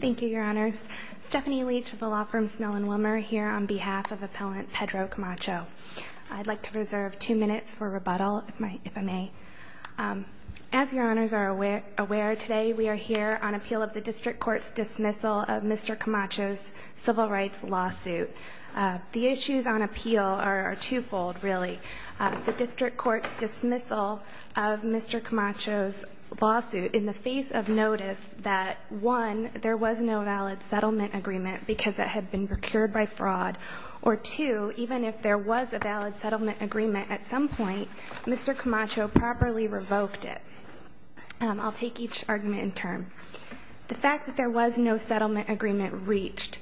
Thank you, Your Honors. Stephanie Leach of the law firm Snell and Wilmer here on behalf of Appellant Pedro Camacho. I'd like to reserve two minutes for rebuttal, if I may. As Your Honors are aware, today we are here on appeal of the District Court's dismissal of Mr. Camacho's civil rights lawsuit. The issues on appeal are twofold, really. The District Court's dismissal of Mr. Camacho's lawsuit in the face of notice that, one, there was no valid settlement agreement because it had been procured by fraud, or two, even if there was a valid settlement agreement at some point, Mr. Camacho properly revoked it. I'll take each argument in turn. The fact that there was no settlement agreement reached.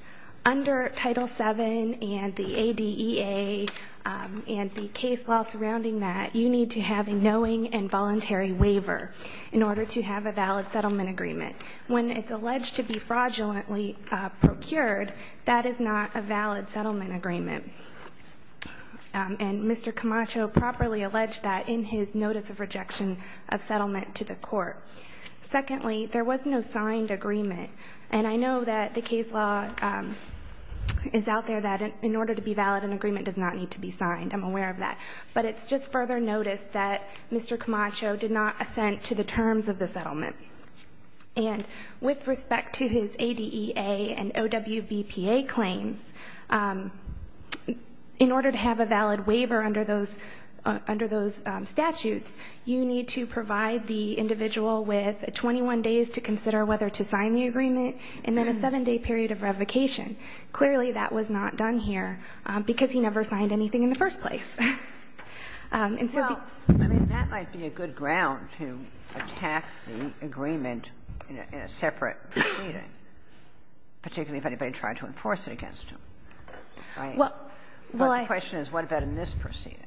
Under Title VII and the ADEA and the case law surrounding that, you need to have a knowing and voluntary waiver in order to have a valid settlement agreement. When it's alleged to be fraudulently procured, that is not a valid settlement agreement. And Mr. Camacho properly alleged that in his notice of rejection of settlement to the Court. Secondly, there was no signed agreement. And I know that the case law is out there that in order to be valid, an agreement does not need to be signed. I'm aware of that. But it's just further noticed that Mr. Camacho did not assent to the terms of the settlement. And with respect to his ADEA and OWVPA claims, in order to have a valid waiver under those statutes, you need to provide the individual with 21 days to consider whether to sign the agreement and then a 7-day period of revocation. Clearly, that was not done here because he never signed anything in the first place. And so the ---- Kagan. Well, I mean, that might be a good ground to attack the agreement in a separate proceeding, particularly if anybody tried to enforce it against him. Well, I ---- My question is, what about in this proceeding?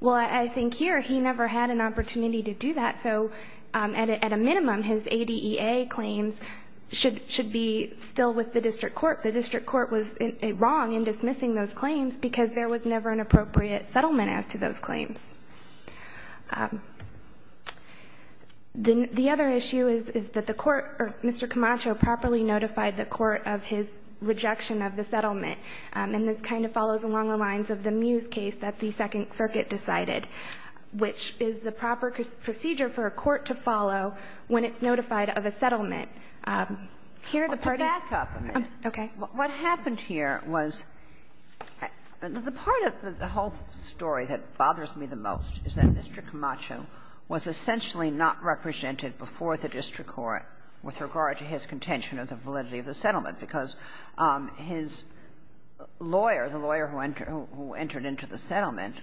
Well, I think here he never had an opportunity to do that. So at a minimum, his ADEA claims should be still with the district court. The district court was wrong in dismissing those claims because there was never an appropriate settlement as to those claims. The other issue is that the court or Mr. Camacho properly notified the court of his rejection of the settlement. And this kind of follows along the lines of the Mews case that the Second Circuit decided, which is the proper procedure for a court to follow when it's notified of a settlement. Here, the parties ---- Well, to back up a minute, what happened here was the part of the whole story that bothers me the most is that Mr. Camacho was essentially not represented before the district court with regard to his contention of the validity of the settlement, because his lawyer, the lawyer who entered into the settlement,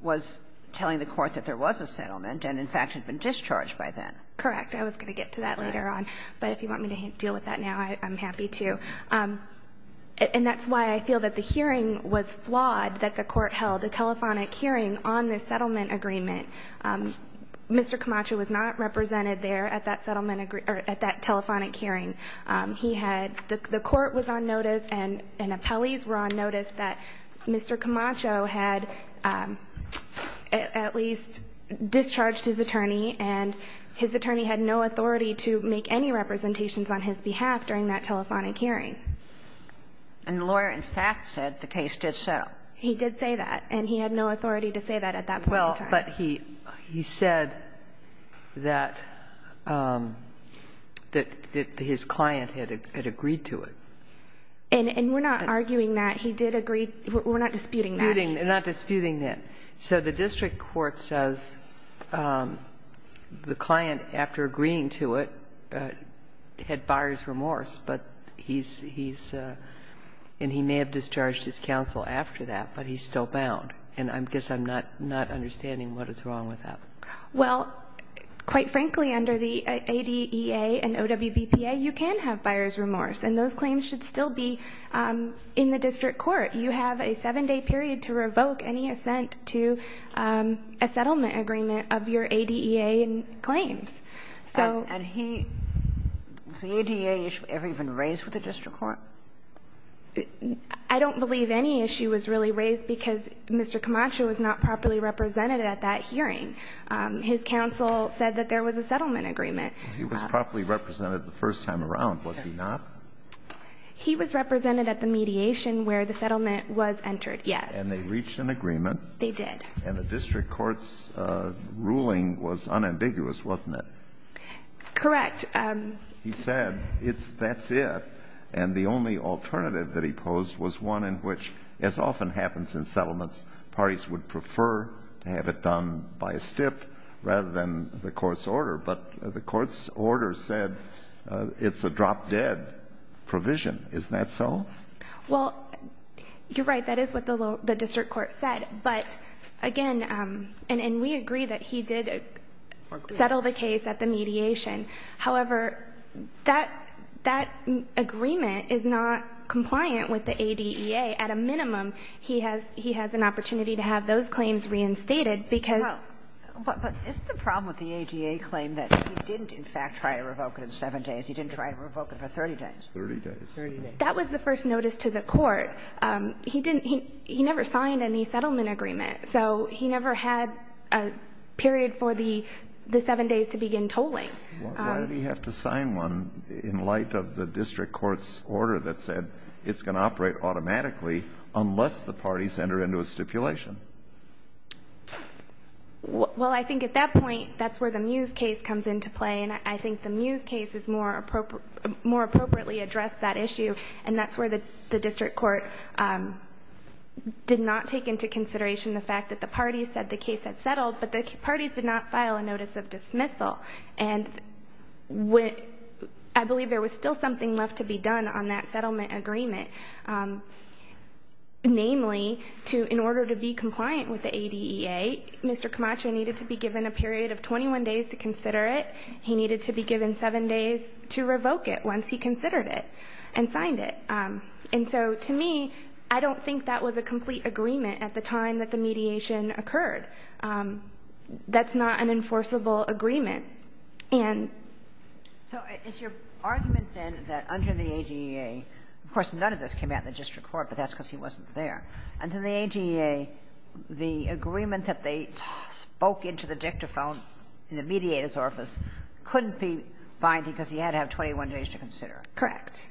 was telling the court that there was a settlement and, in fact, had been discharged by then. Correct. I was going to get to that later on, but if you want me to deal with that now, I'm happy to. And that's why I feel that the hearing was flawed, that the court held a telephonic hearing on the settlement agreement. Mr. Camacho was not represented there at that settlement ---- or at that telephonic hearing. He had ---- the court was on notice and appellees were on notice that Mr. Camacho had at least discharged his attorney, and his attorney had no authority to make any representations on his behalf during that telephonic hearing. And the lawyer, in fact, said the case did settle. He did say that, and he had no authority to say that at that point in time. But he said that his client had agreed to it. And we're not arguing that. He did agree. We're not disputing that. We're not disputing that. So the district court says the client, after agreeing to it, had buyer's remorse, but he's ---- and he may have discharged his counsel after that, but he's still in the district court. And what is wrong with that? Well, quite frankly, under the ADEA and OWBPA, you can have buyer's remorse, and those claims should still be in the district court. You have a 7-day period to revoke any assent to a settlement agreement of your ADEA claims. So ---- And he ---- was the ADEA issue ever even raised with the district court? I don't believe any issue was really raised because Mr. Camacho was not properly represented at that hearing. His counsel said that there was a settlement agreement. He was properly represented the first time around, was he not? He was represented at the mediation where the settlement was entered, yes. And they reached an agreement. They did. And the district court's ruling was unambiguous, wasn't it? Correct. He said, that's it. And the only alternative that he posed was one in which, as often happens in settlements, parties would prefer to have it done by a stip rather than the court's order. But the court's order said it's a drop-dead provision. Isn't that so? Well, you're right. That is what the district court said. But again, and we agree that he did settle the case at the mediation. However, that agreement is not compliant with the ADEA. At a minimum, he has an opportunity to have those claims reinstated because Well, but isn't the problem with the ADEA claim that he didn't, in fact, try to revoke it in seven days, he didn't try to revoke it for 30 days? 30 days. 30 days. That was the first notice to the court. He didn't, he never signed any settlement agreement. So he never had a period for the seven days to begin tolling. Why did he have to sign one in light of the district court's order that said it's going to operate automatically unless the parties enter into a stipulation? Well, I think at that point, that's where the Mews case comes into play. And I think the Mews case is more appropriately addressed that issue. And that's where the district court did not take into consideration the fact that the parties said the case had settled, but the parties did not file a notice of dismissal. And I believe there was still something left to be done on that settlement agreement, namely, in order to be compliant with the ADEA, Mr. Camacho needed to be given a period of 21 days to consider it. He needed to be given seven days to revoke it once he considered it and signed it. And so to me, I don't think that was a complete agreement at the time that the mediation occurred. That's not an enforceable agreement. And so it's your argument, then, that under the ADEA, of course, none of this came out in the district court, but that's because he wasn't there. Under the ADEA, the agreement that they spoke into the dictaphone in the mediator's office couldn't be binding because he had to have 21 days to consider it. Correct.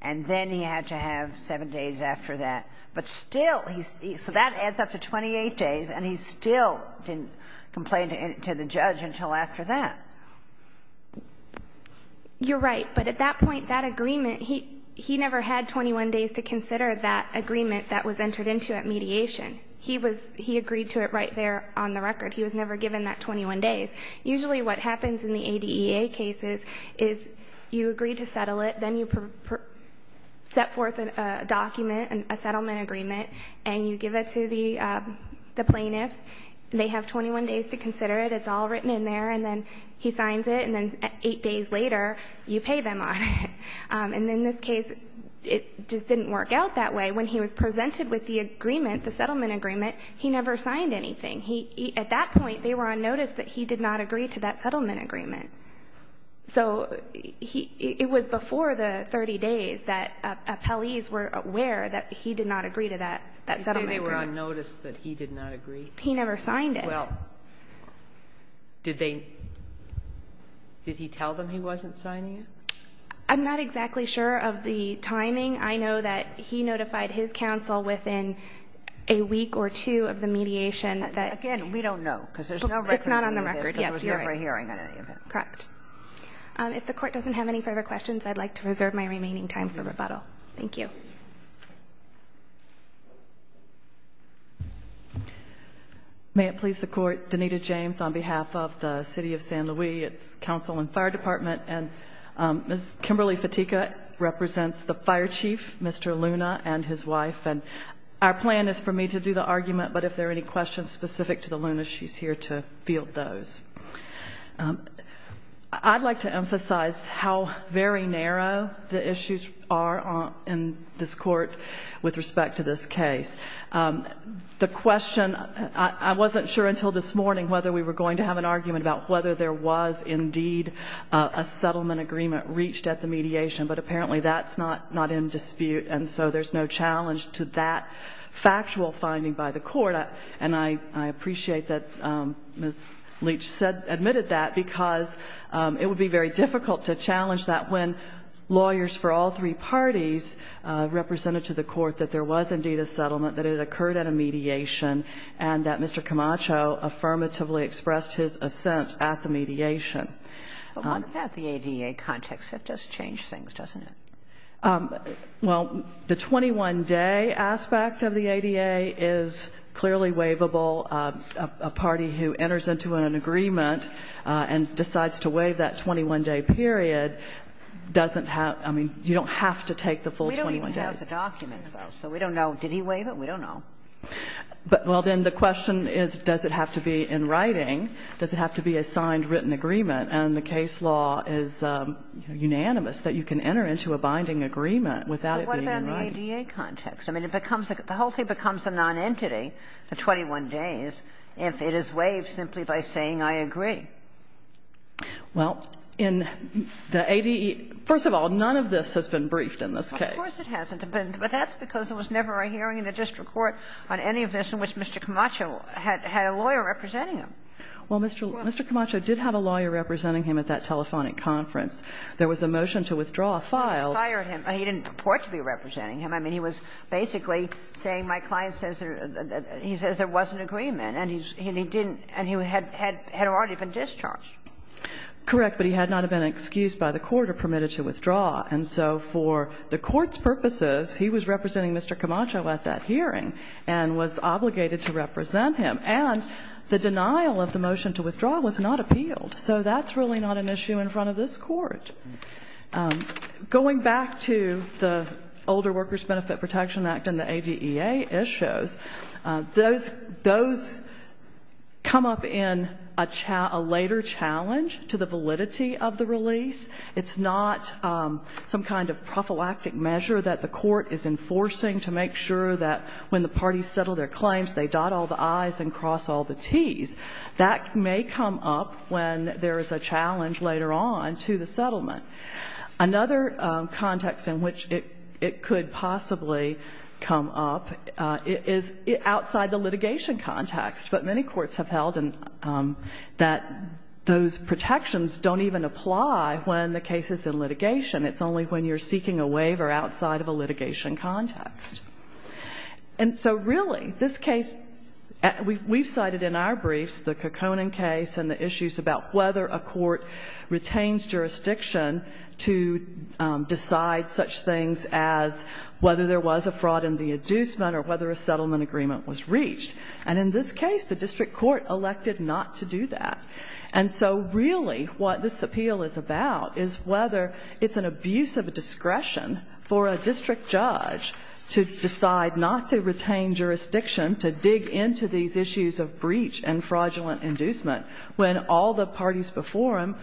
And then he had to have seven days after that. But still, he's so that adds up to 28 days, and he still didn't complain to the judge until after that. You're right. But at that point, that agreement, he never had 21 days to consider that agreement that was entered into at mediation. He was he agreed to it right there on the record. He was never given that 21 days. Usually what happens in the ADEA cases is you agree to settle it, then you set forth a document, a settlement agreement, and you give it to the plaintiff. They have 21 days to consider it. It's all written in there. And then he signs it, and then eight days later, you pay them on it. And in this case, it just didn't work out that way. When he was presented with the agreement, the settlement agreement, he never signed anything. At that point, they were on notice that he did not agree to that settlement agreement. So it was before the 30 days that appellees were aware that he did not agree to that settlement agreement. You say they were on notice that he did not agree? He never signed it. Well, did he tell them he wasn't signing it? I'm not exactly sure of the timing. I know that he notified his counsel within a week or two of the mediation that... Again, we don't know, because there's no record on any of this. It's not on the record. Yes. Because there was never a hearing on any of it. Correct. If the Court doesn't have any further questions, I'd like to reserve my remaining time for rebuttal. Thank you. May it please the Court, Donita James on behalf of the City of San Luis, its Council and Fire Department. And Ms. Kimberly Fitika represents the Fire Chief, Mr. Luna, and his wife. And our plan is for me to do the argument, but if there are any questions specific to I'd like to emphasize how very narrow the issues are in this Court with respect to this case. The question, I wasn't sure until this morning whether we were going to have an argument about whether there was indeed a settlement agreement reached at the mediation, but apparently that's not in dispute, and so there's no challenge to that factual finding by the Court. And I appreciate that Ms. Leach admitted that because it would be very difficult to challenge that when lawyers for all three parties represented to the Court that there was indeed a settlement, that it occurred at a mediation, and that Mr. Camacho affirmatively expressed his assent at the mediation. But what about the ADA context? That does change things, doesn't it? Well, the 21-day aspect of the ADA is clearly waivable. A party who enters into an agreement and decides to waive that 21-day period doesn't have, I mean, you don't have to take the full 21 days. We don't even have the documents, though, so we don't know. Did he waive it? We don't know. But, well, then the question is, does it have to be in writing? Does it have to be a signed, written agreement? And the case law is unanimous that you can enter into a binding agreement without it being in writing. But what about in the ADA context? I mean, the whole thing becomes a nonentity, the 21 days, if it is waived simply by saying, I agree. Well, in the ADE, first of all, none of this has been briefed in this case. Of course it hasn't. But that's because there was never a hearing in the district court on any of this in which Mr. Camacho had a lawyer representing him. Well, Mr. Camacho did have a lawyer representing him at that telephonic conference. There was a motion to withdraw a file. But he didn't fire him. He didn't report to be representing him. I mean, he was basically saying, my client says there wasn't agreement. And he didn't. And he had already been discharged. Correct. But he had not been excused by the court or permitted to withdraw. And so for the court's purposes, he was representing Mr. Camacho at that hearing and was obligated to represent him. And the denial of the motion to withdraw was not appealed. So that's really not an issue in front of this court. Going back to the Older Workers Benefit Protection Act and the ADEA issues, those come up in a later challenge to the validity of the release. It's not some kind of prophylactic measure that the court is enforcing to make sure that when the parties settle their claims, they dot all the I's and cross all the T's. That may come up when there is a challenge later on to the settlement. Another context in which it could possibly come up is outside the litigation context. But many courts have held that those protections don't even apply when the case is in litigation. It's only when you're seeking a waiver outside of a litigation context. And so really, this case, we've cited in our briefs the Caconan case and the issues about whether a court retains jurisdiction to decide such things as whether there was a fraud in the inducement or whether a settlement agreement was reached. And in this case, the district court elected not to do that. And so really, what this appeal is about is whether it's an abuse of discretion for a district judge to decide not to retain jurisdiction to dig into these issues of breach and fraudulent inducement when all the parties before him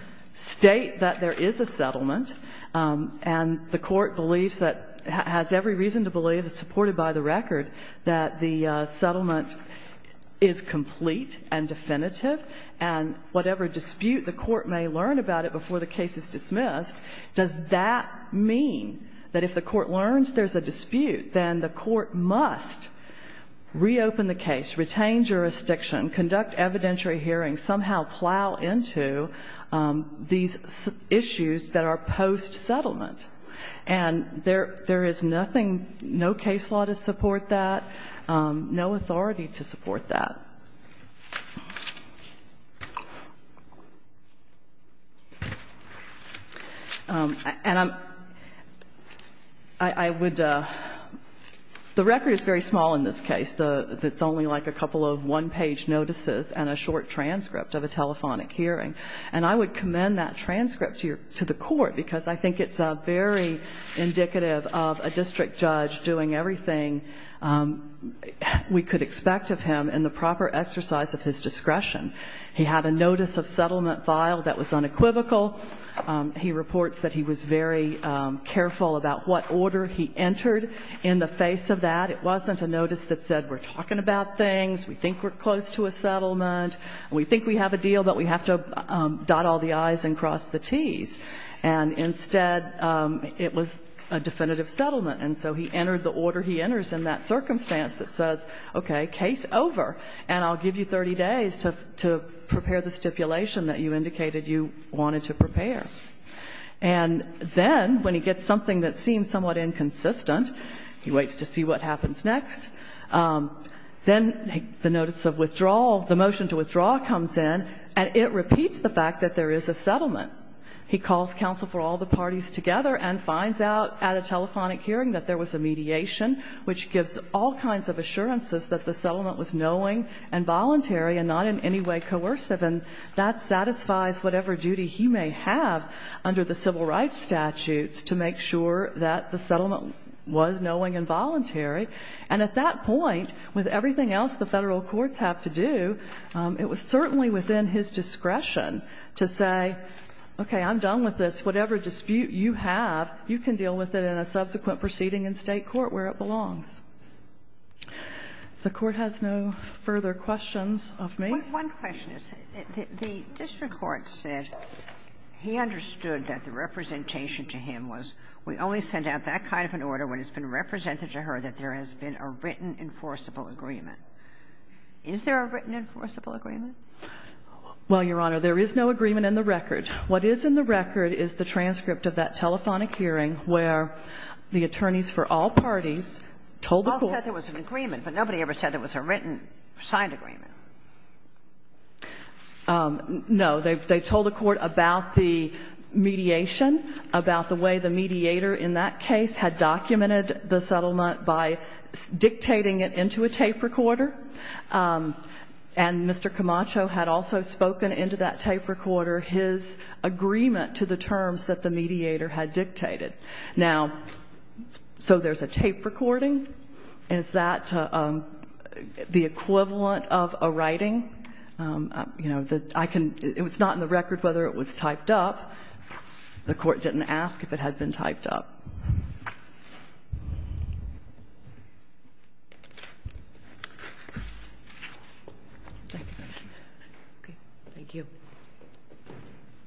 state that there is a settlement and the court believes that, has every reason to believe, supported by the record, that the settlement is complete and definitive and whatever dispute the court may learn about it before the case is dismissed, does that mean that if the court learns there's a dispute, then the court must reopen the case, retain jurisdiction, conduct evidentiary hearings, somehow plow into these issues that are post-settlement. And there is nothing, no case law to support that, no authority to support that. And I would, the record is very small in this case. It's only like a couple of one-page notices and a short transcript of a telephonic hearing. And I would commend that transcript to the court because I think it's very indicative of a district judge doing everything we could expect of him in the proper exercise of his discretion. He had a notice of settlement filed that was unequivocal. He reports that he was very careful about what order he entered in the face of that. It wasn't a notice that said, we're talking about things, we think we're close to a settlement, we think we have a deal, but we have to dot all the i's and cross the t's. And instead, it was a definitive settlement. And so he entered the order he enters in that circumstance that says, okay, case over, and I'll give you 30 days to prepare the stipulation that you indicated you wanted to prepare. And then when he gets something that seems somewhat inconsistent, he waits to see what happens next. Then the notice of withdrawal, the motion to withdraw comes in, and it repeats the fact that there is a settlement. He calls counsel for all the parties together and finds out at a telephonic hearing that there was a mediation, which gives all kinds of assurances that the settlement was knowing and voluntary and not in any way coercive. And that satisfies whatever duty he may have under the civil rights statutes to make sure that the settlement was knowing and voluntary. And at that point, with everything else the Federal courts have to do, it was certainly within his discretion to say, okay, I'm done with this. Whatever dispute you have, you can deal with it in a subsequent proceeding in State court where it belongs. If the Court has no further questions of me. One question is, the district court said he understood that the representation to him was, we only send out that kind of an order when it's been represented to her that there has been a written enforceable agreement. Is there a written enforceable agreement? Well, Your Honor, there is no agreement in the record. What is in the record is the transcript of that telephonic hearing where the attorneys for all parties told the court. All said there was an agreement, but nobody ever said there was a written signed agreement. No. They told the Court about the mediation, about the way the mediator in that case had documented the settlement by dictating it into a tape recorder. And Mr. Camacho had also spoken into that tape recorder his agreement to the terms that the mediator had dictated. Now, so there's a tape recording. Is that the equivalent of a writing? You know, I can, it's not in the record whether it was typed up. The Court didn't ask if it had been typed up. Okay. Thank you.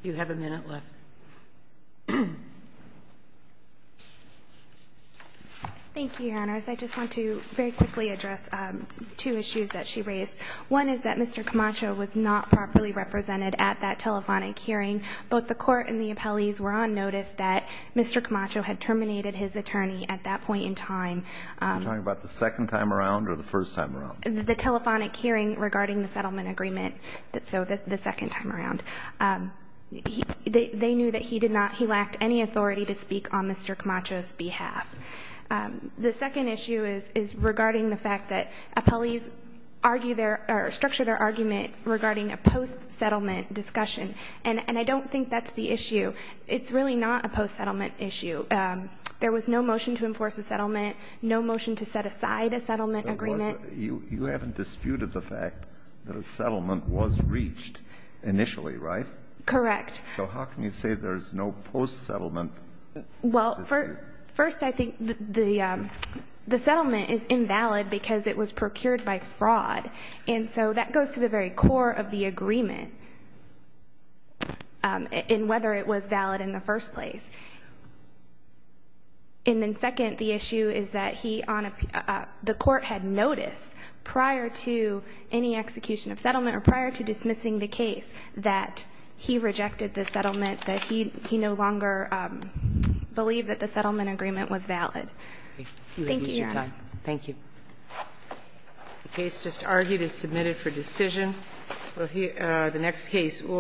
You have a minute left. Thank you, Your Honors. I just want to very quickly address two issues that she raised. One is that Mr. Camacho was not properly represented at that telephonic hearing. Both the Court and the appellees were on notice that Mr. Camacho had terminated his attorney at that point in time. Are you talking about the second time around or the first time around? The telephonic hearing regarding the settlement agreement. So the second time around. They knew that he did not, he lacked any authority to speak on Mr. Camacho's behalf. The second issue is regarding the fact that appellees argue their, or structure their argument regarding a post-settlement discussion. And I don't think that's the issue. It's really not a post-settlement issue. There was no motion to enforce a settlement, no motion to set aside a settlement agreement. You haven't disputed the fact that a settlement was reached initially, right? Correct. So how can you say there's no post-settlement dispute? Well, first I think the settlement is invalid because it was procured by fraud. And so that goes to the very core of the agreement. And whether it was valid in the first place. And then second, the issue is that he on a, the court had noticed prior to any execution of settlement or prior to dismissing the case that he rejected the settlement, that he no longer believed that the settlement agreement was valid. Thank you, Your Honor. Thank you. The case just argued is submitted for decision. The next case.